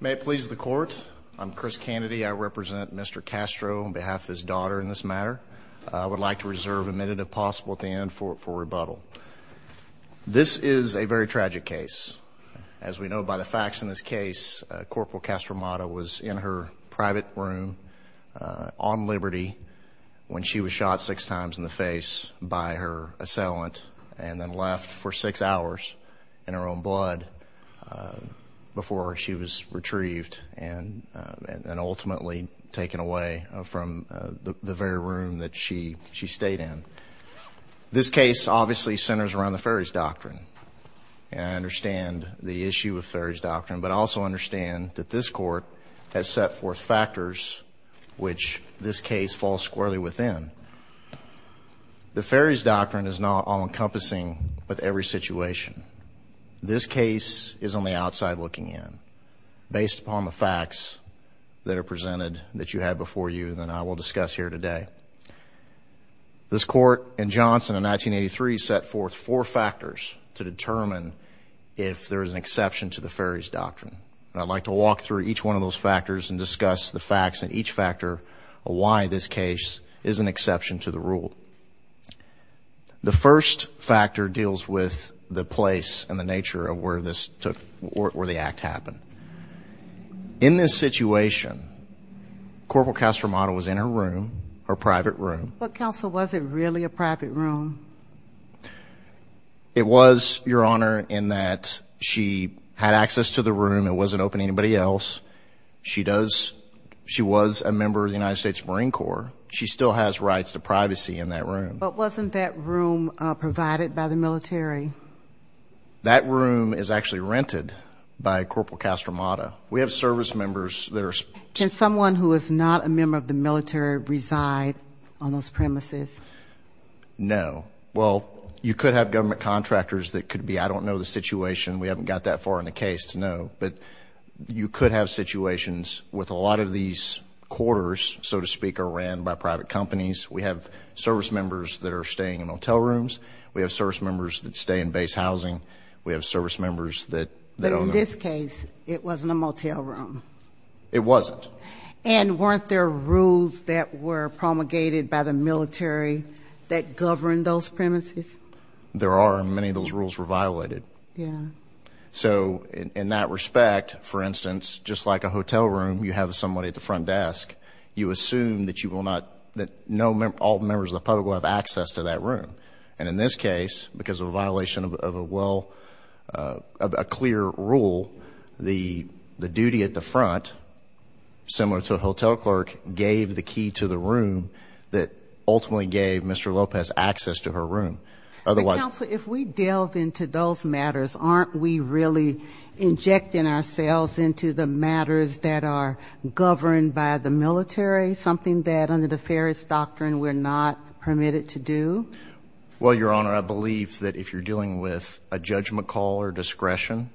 May it please the court. I'm Chris Kennedy. I represent Mr. Castro on behalf of his daughter in this matter. I would like to reserve a minute if possible at the end for rebuttal. This is a very tragic case. As we know by the facts in this case Corporal Castro Mata was in her private room on Liberty when she was shot six times in the face by her assailant and then left for six hours in her own blood before she was retrieved and and ultimately taken away from the very room that she she stayed in. This case obviously centers around the Ferry's Doctrine and I understand the issue of Ferry's Doctrine but I also understand that this court has set forth factors which this case falls squarely within. The Ferry's Doctrine is not all-encompassing with every situation. This case is on the outside looking in based upon the facts that are presented that you had before you that I will discuss here today. This court in Johnson in 1983 set forth four factors to determine if there is an exception to the Ferry's Doctrine and I'd like to walk through each one of those factors and discuss the facts in each factor why this case is an exception to the rule. The first factor deals with the place and the nature of where this took or where the act happened. In this situation Corporal Castro Mata was in her room, her private room. But counsel was it really a private room? It was your room. Because she was a member of the United States Marine Corps she still has rights to privacy in that room. But wasn't that room provided by the military? That room is actually rented by Corporal Castro Mata. We have service members there. Can someone who is not a member of the military reside on those premises? No well you could have government contractors that could be I don't know the situation we haven't got that far in the case to know but you could have situations with a lot of these quarters so to speak are ran by private companies. We have service members that are staying in motel rooms. We have service members that stay in base housing. We have service members that... But in this case it wasn't a motel room? It wasn't. And weren't there rules that were promulgated by the military that govern those premises? There are many of those rules were like a hotel room you have someone at the front desk you assume that you will not that no member all members of the public will have access to that room. And in this case because of a violation of a well a clear rule the the duty at the front similar to a hotel clerk gave the key to the room that ultimately gave Mr. Lopez access to her room. Otherwise... Counsel if we delve into those matters aren't we really injecting ourselves into the matters that are governed by the military something that under the Ferris Doctrine we're not permitted to do? Well your honor I believe that if you're dealing with a judgment call or discretion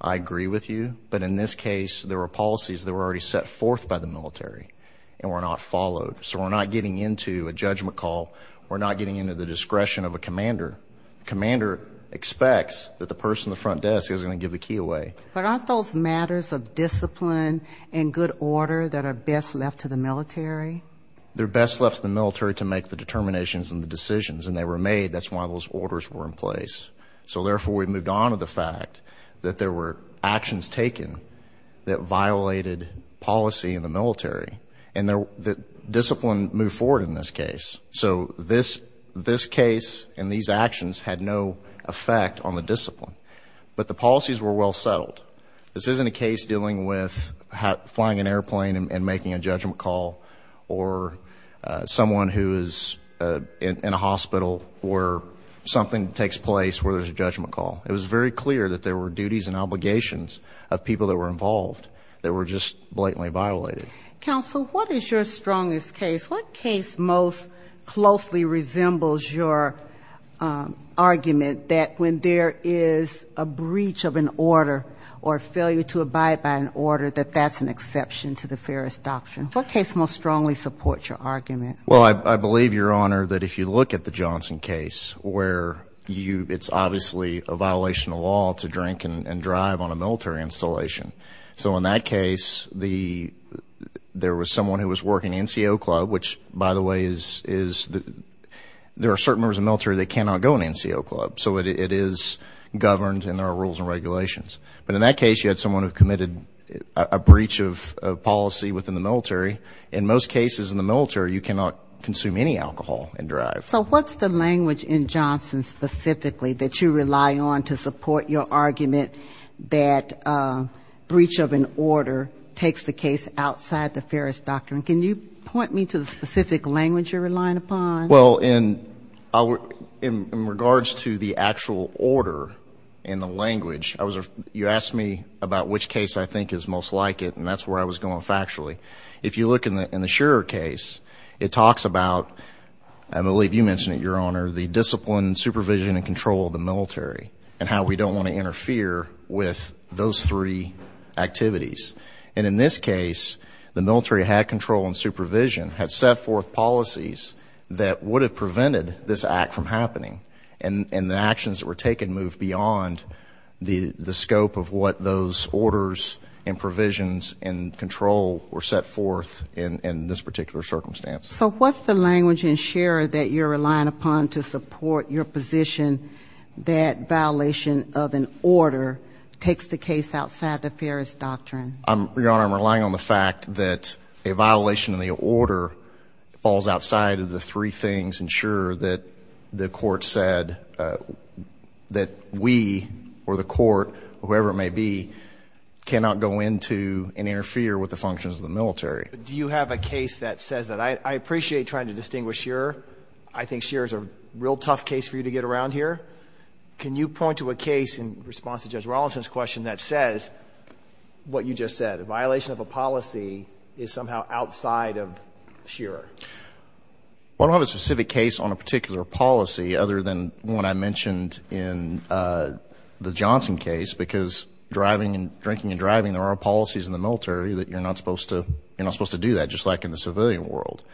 I agree with you but in this case there were policies that were already set forth by the military and were not followed. So we're not getting into a judgment call. We're not getting into the discretion of a commander. Commander expects that the person the front desk is going to give the key away. But aren't those matters of discipline and good order that are best left to the military? They're best left the military to make the determinations and the decisions and they were made that's why those orders were in place. So therefore we moved on to the fact that there were actions taken that violated policy in the military and the discipline moved forward in this case. So this this and these actions had no effect on the discipline but the policies were well settled. This isn't a case dealing with flying an airplane and making a judgment call or someone who is in a hospital or something takes place where there's a judgment call. It was very clear that there were duties and obligations of people that were involved that were just blatantly violated. Counsel, what is your strongest case? What case most closely resembles your argument that when there is a breach of an order or failure to abide by an order that that's an exception to the fairest doctrine? What case most strongly supports your argument? Well I believe your honor that if you look at the Johnson case where you it's obviously a violation of law to drink and drive on a there was someone who was working NCO club which by the way is is the there are certain members of military that cannot go in NCO club so it is governed and there are rules and regulations but in that case you had someone who committed a breach of policy within the military. In most cases in the military you cannot consume any alcohol and drive. So what's the language in Johnson specifically that you rely on to support your argument that breach of an order takes the case outside the fairest doctrine? Can you point me to the specific language you're relying upon? Well in our in regards to the actual order in the language I was you asked me about which case I think is most like it and that's where I was going factually. If you look in the in the Shurer case it talks about I believe you mentioned it your honor the discipline supervision and control of the military and how we don't want to interfere with those three activities and in this case the military had control and supervision had set forth policies that would have prevented this act from happening and and the actions that were taken move beyond the the scope of what those orders and provisions and control were set forth in in this particular circumstance. So what's the language in Shurer that you're relying upon to support your position that violation of an order takes the case outside the fairest doctrine? Your honor I'm relying on the fact that a violation of the order falls outside of the three things ensure that the court said that we or the court whoever it may be cannot go into and interfere with the functions of the military. Do you have a case that says that? I appreciate trying to distinguish Shurer. I think Shurer is a real tough case for you to get around here. Can you point to a case in response to Judge Rollinson's question that says what you just said a violation of a policy is somehow outside of Shurer? Well I don't have a specific case on a particular policy other than what I mentioned in the Johnson case because driving and drinking and driving there are policies in the military that you're not supposed to you're not supposed to do that just like in the civilian world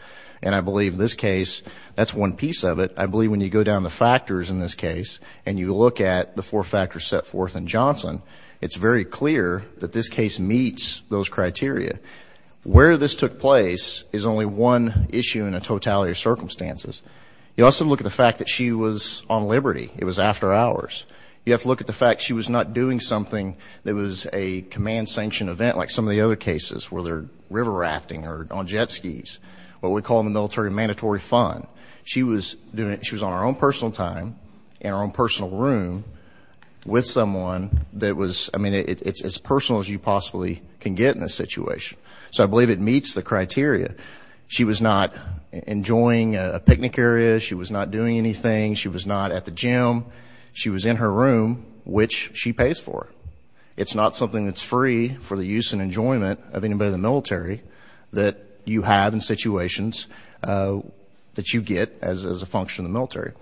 and I believe this case that's one piece of it I believe when you go down the factors in this case and you look at the four factors set forth in Johnson it's very clear that this case meets those criteria. Where this took place is only one issue in a totality of circumstances. You also look at the fact that she was on liberty it was after hours. You have to look at the fact she was not doing something that was a command-sanction event like some of the other cases where they're river rafting or on jet skis what we call in the military mandatory fun. She was doing it she was on her own personal time in her own personal room with someone that was I mean it's as personal as you possibly can get in this situation. So I believe it meets the criteria. She was not enjoying a picnic area, she was not doing anything, she was not at the gym, she was in her room which she pays for. It's not something that's free for the use and enjoyment of anybody the military that you have in situations that you get as as a function of the military.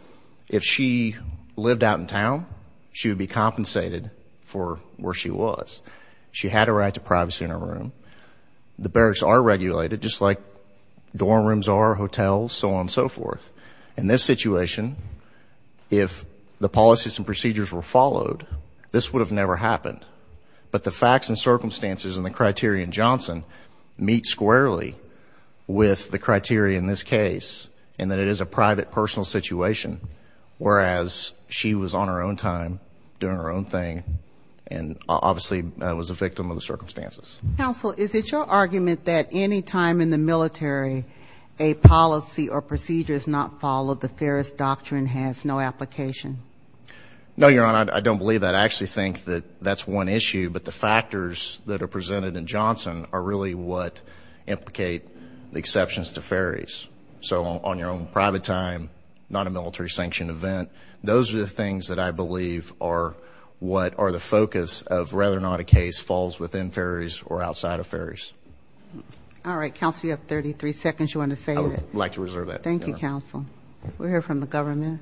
If she lived out in town she would be compensated for where she was. She had a right to privacy in her room. The barracks are regulated just like dorm rooms are hotels so on and so forth. In this situation if the policies and procedures were followed this would have never happened. But the facts and circumstances and the criteria in Johnson meet squarely with the criteria in this case and that it is a private personal situation whereas she was on her own time doing her own thing and obviously I was a victim of the circumstances. Counsel is it your argument that any time in the military a policy or procedure is not followed the Ferris doctrine has no application? No your honor I don't believe that I actually think that that's one issue but the factors that are presented in Johnson are really what implicate the exceptions to Ferris. So on your own private time, not a military sanctioned event, those are the things that I believe are what are the focus of whether or not a case falls within Ferris or outside of Ferris. All right counsel you have 33 seconds you want to like to reserve that. Thank you counsel. We're here from the government.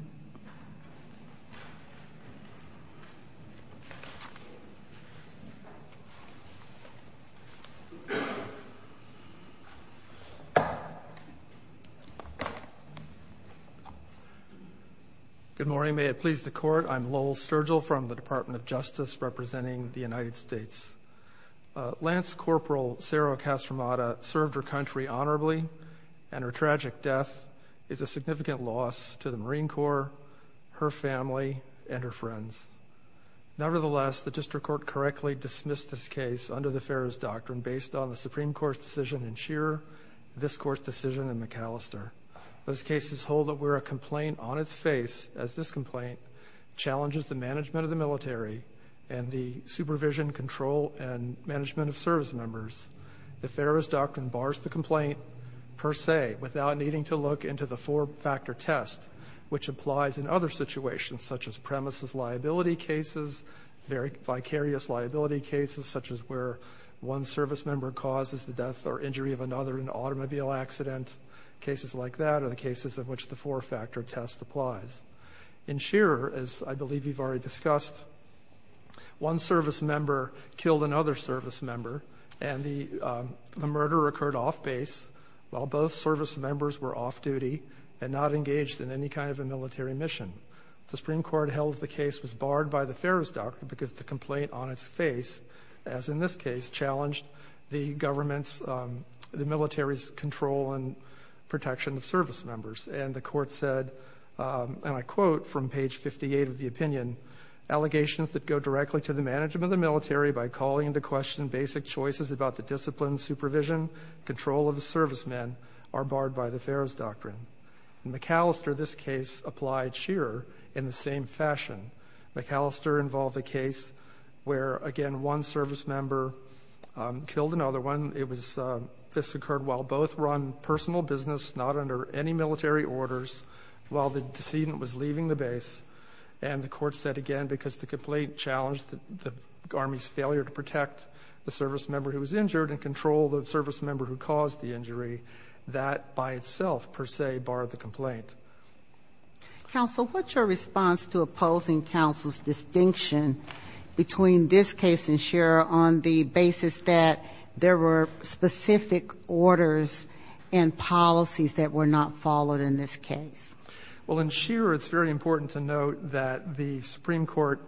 Good morning may it please the court I'm Lowell Sturgill from the Department of Justice representing the United States. Lance Corporal Sarah Castromata served her country honorably and her tragic death is a significant loss to the Marine Corps, her family, and her friends. Nevertheless the district court correctly dismissed this case under the Ferris doctrine based on the Supreme Court's decision in Shearer, this court's decision in McAllister. Those cases hold that we're a complaint on its face as this complaint challenges the management of the military and the supervision control and management of service members. The Ferris doctrine bars the complaint per se without needing to look into the four-factor test which applies in other situations such as premises liability cases, vicarious liability cases such as where one service member causes the death or injury of another in automobile accident, cases like that are the cases of which the four-factor test applies. In Shearer, as I believe you've already discussed, one service member killed another service member and the the murder occurred off base while both service members were off duty and not engaged in any kind of a military mission. The Supreme Court held the case was barred by the Ferris doctrine because the complaint on its face, as in this case, challenged the government's the military's control and protection of service members and the court said, and I quote from page 58 of the opinion, allegations that go directly to the management of the military by calling into question basic choices about the discipline, supervision, control of the servicemen are barred by the Ferris doctrine. In McAllister, this case applied Shearer in the same fashion. McAllister involved a case where, again, one service member killed another one. It was, this occurred while both were on personal business, not under any military orders, while the decedent was leaving the base and the court said, again, because the complaint challenged the protect the service member who was injured and control the service member who caused the injury, that by itself, per se, barred the complaint. Counsel, what's your response to opposing counsel's distinction between this case and Shearer on the basis that there were specific orders and policies that were not followed in this case? Well, in Shearer, it's very important to note that the Supreme Court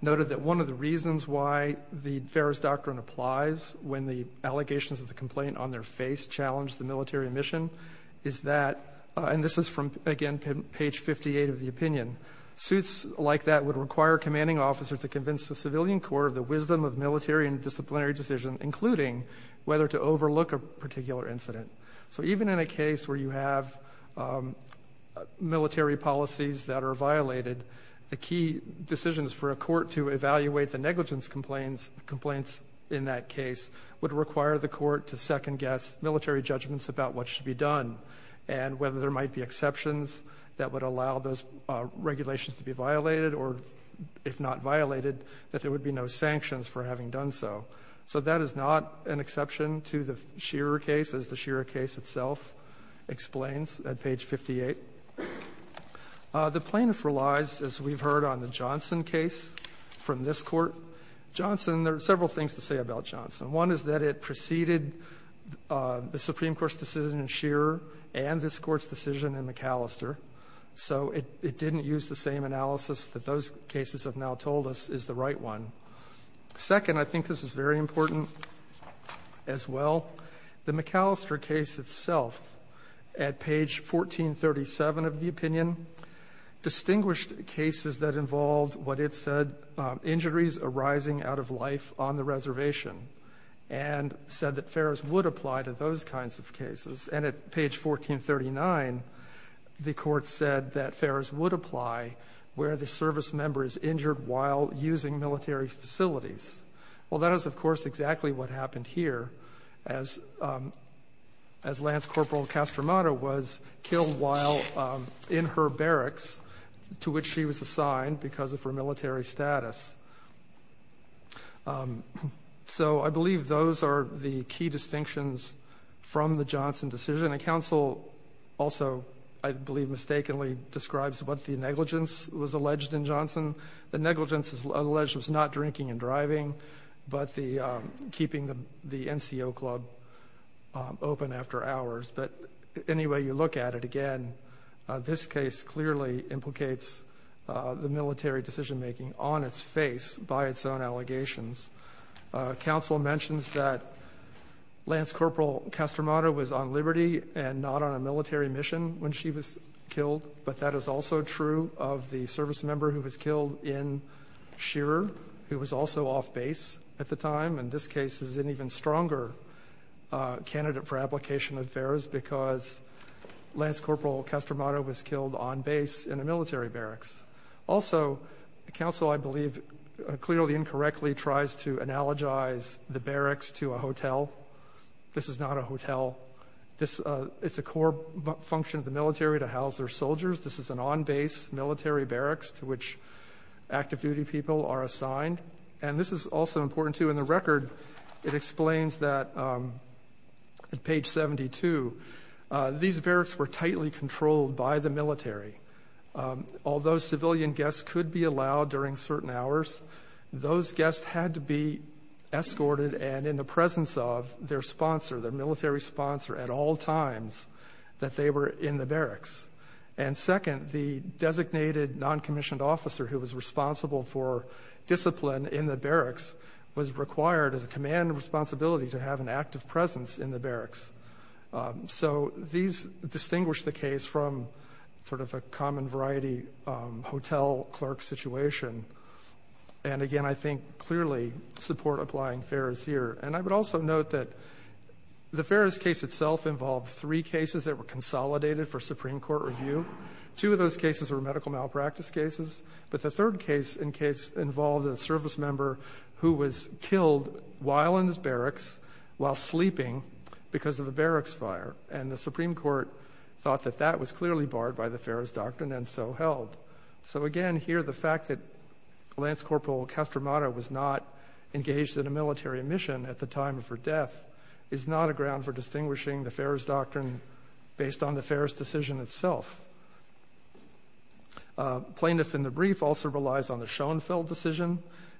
noted that one of the reasons why the Ferris doctrine applies when the allegations of the complaint on their face challenge the military mission is that, and this is from, again, page 58 of the opinion, suits like that would require a commanding officer to convince the civilian corps of the wisdom of military and disciplinary decision, including whether to overlook a particular incident. So even in a case where you have military policies that are violated, the key decisions for a court to evaluate the negligence complaints in that case would require the court to second-guess military judgments about what should be done and whether there might be exceptions that would allow those regulations to be violated or, if not violated, that there would be no sanctions for having done so. So that is not an exception to the Shearer case, as the Shearer case itself explains at page 58. The plaintiff relies, as we've heard, on the Johnson case from this Court. Johnson, there are several things to say about Johnson. One is that it preceded the Supreme Court's decision in Shearer and this Court's decision in McAllister. So it didn't use the same analysis that those cases have now told us is the right one. Second, I think this is very important as well. The case itself, at page 1437 of the opinion, distinguished cases that involved what it said, injuries arising out of life on the reservation, and said that FAERS would apply to those kinds of cases. And at page 1439, the Court said that FAERS would apply where the service member is injured while using military facilities. Well, that is, of course, exactly what happened here, as Lance Corporal Castromato was killed while in her barracks, to which she was assigned because of her military status. So I believe those are the key distinctions from the Johnson decision. And counsel also, I believe, mistakenly describes what the negligence was alleged in Johnson. The negligence alleged was not drinking and driving, but the keeping the NCO club open after hours. But any way you look at it, again, this case clearly implicates the military decision-making on its face by its own allegations. Counsel mentions that Lance Corporal Castromato was on liberty and not on a military mission when she was killed, but that is also true of the service member who was killed in Shearer, who was also off base at the time. And this case is an even stronger candidate for application of FAERS because Lance Corporal Castromato was killed on base in a military barracks. Also, counsel, I believe, clearly incorrectly tries to analogize the barracks to a hotel. This is not a hotel. It's a core function of the military to house their soldiers. This is an on-base military barracks to which active duty people are assigned. And this is also important, too. In the record, it explains that at page 72, these barracks were tightly controlled by the military. Although civilian guests could be allowed during certain hours, those guests had to be escorted and in the presence of their sponsor, their military sponsor at all times that they were in the barracks. And second, the designated non-commissioned officer who was responsible for discipline in the barracks was required as a command responsibility to have an active presence in the barracks. So these distinguish the I think clearly support applying FAERS here. And I would also note that the FAERS case itself involved three cases that were consolidated for Supreme Court review. Two of those cases were medical malpractice cases. But the third case involved a service member who was killed while in his barracks while sleeping because of a barracks fire. And the Supreme Court thought that that was clearly barred by the FAERS doctrine and so held. So again, here the fact that Lance Corporal Castromato was not engaged in a military mission at the time of her death is not a ground for distinguishing the FAERS doctrine based on the FAERS decision itself. Plaintiff in the brief also relies on the Schoenfeld decision.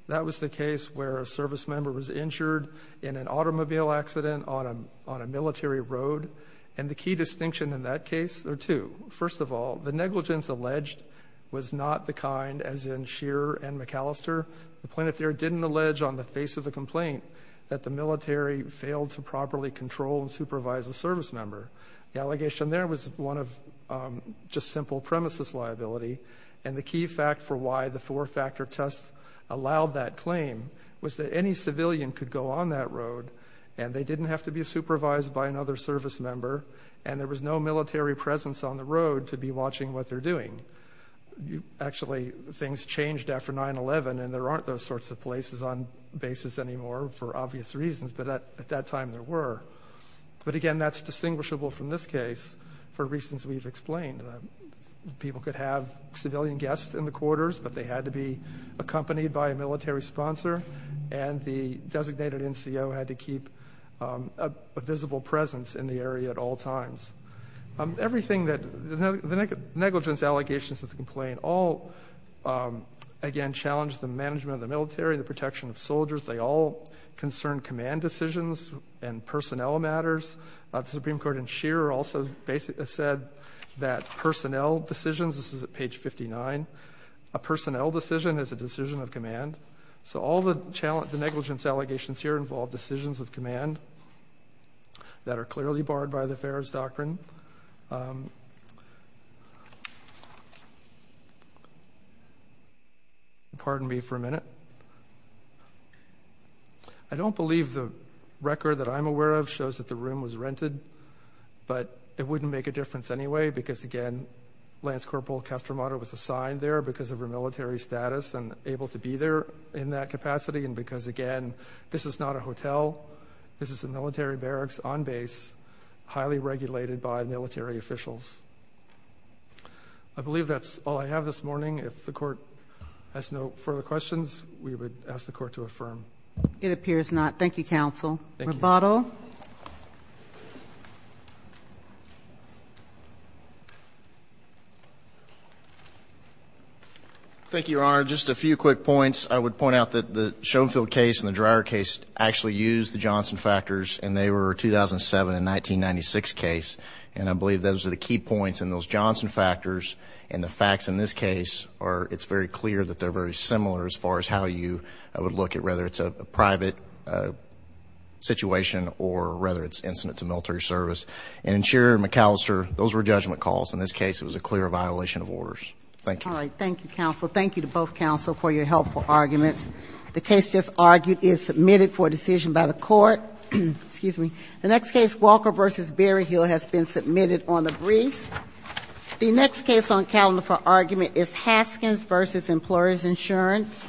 That was the case where a service member was injured in an automobile accident on a military road. And the key distinction in that case are two. First of all, the negligence alleged was not the kind as in Shearer and McAllister. The plaintiff there didn't allege on the face of the complaint that the military failed to properly control and supervise a service member. The allegation there was one of just simple premises liability. And the key fact for why the four-factor test allowed that claim was that any civilian could go on that for a service member and there was no military presence on the road to be watching what they're doing. Actually, things changed after 9-11 and there aren't those sorts of places on bases anymore for obvious reasons, but at that time there were. But again, that's distinguishable from this case for reasons we've explained. People could have civilian guests in the quarters, but they had to be accompanied by a military sponsor and the designated NCO had to keep a visible presence in the area at all times. Everything that the negligence allegations of the complaint all, again, challenged the management of the military, the protection of soldiers. They all concerned command decisions and personnel matters. The Supreme Court in Shearer also basically said that personnel decisions, this is at page 59, a personnel decision is a decision of command. So all the negligence allegations here involved decisions of command that are clearly barred by the Farrer's Doctrine. Pardon me for a minute. I don't believe the record that I'm aware of shows that the room was rented, but it wouldn't make a difference anyway because, again, Lance Corporal Castromato was assigned there because of her military status and able to be there in that capacity. And because, again, this is not a hotel. This is a military barracks on base, highly regulated by military officials. I believe that's all I have this morning. If the Court has no further questions, we would ask the Court to affirm. It appears not. Thank you, Counsel Roboto. Thank you, Your Honor. Just a few quick points. I would point out that the Schoenfeld case and the Dreyer case actually used the Johnson factors, and they were a 2007 and 1996 case. And I believe those are the key points in those Johnson factors. And the facts in this case are, it's very clear that they're very similar as far as how you would look at whether it's a private situation or whether it's incident to military service. And in Shearer and McAllister, those were judgment calls. In this case, it was a clear violation of orders. Thank you. All right. Thank you, Counsel. Thank you to both Counsel for your helpful arguments. The case just argued is submitted for decision by the Court. Excuse me. The next case, Walker v. Berryhill, has been submitted on the briefs. The next case on the calendar for argument is Haskins v. Employers Insurance.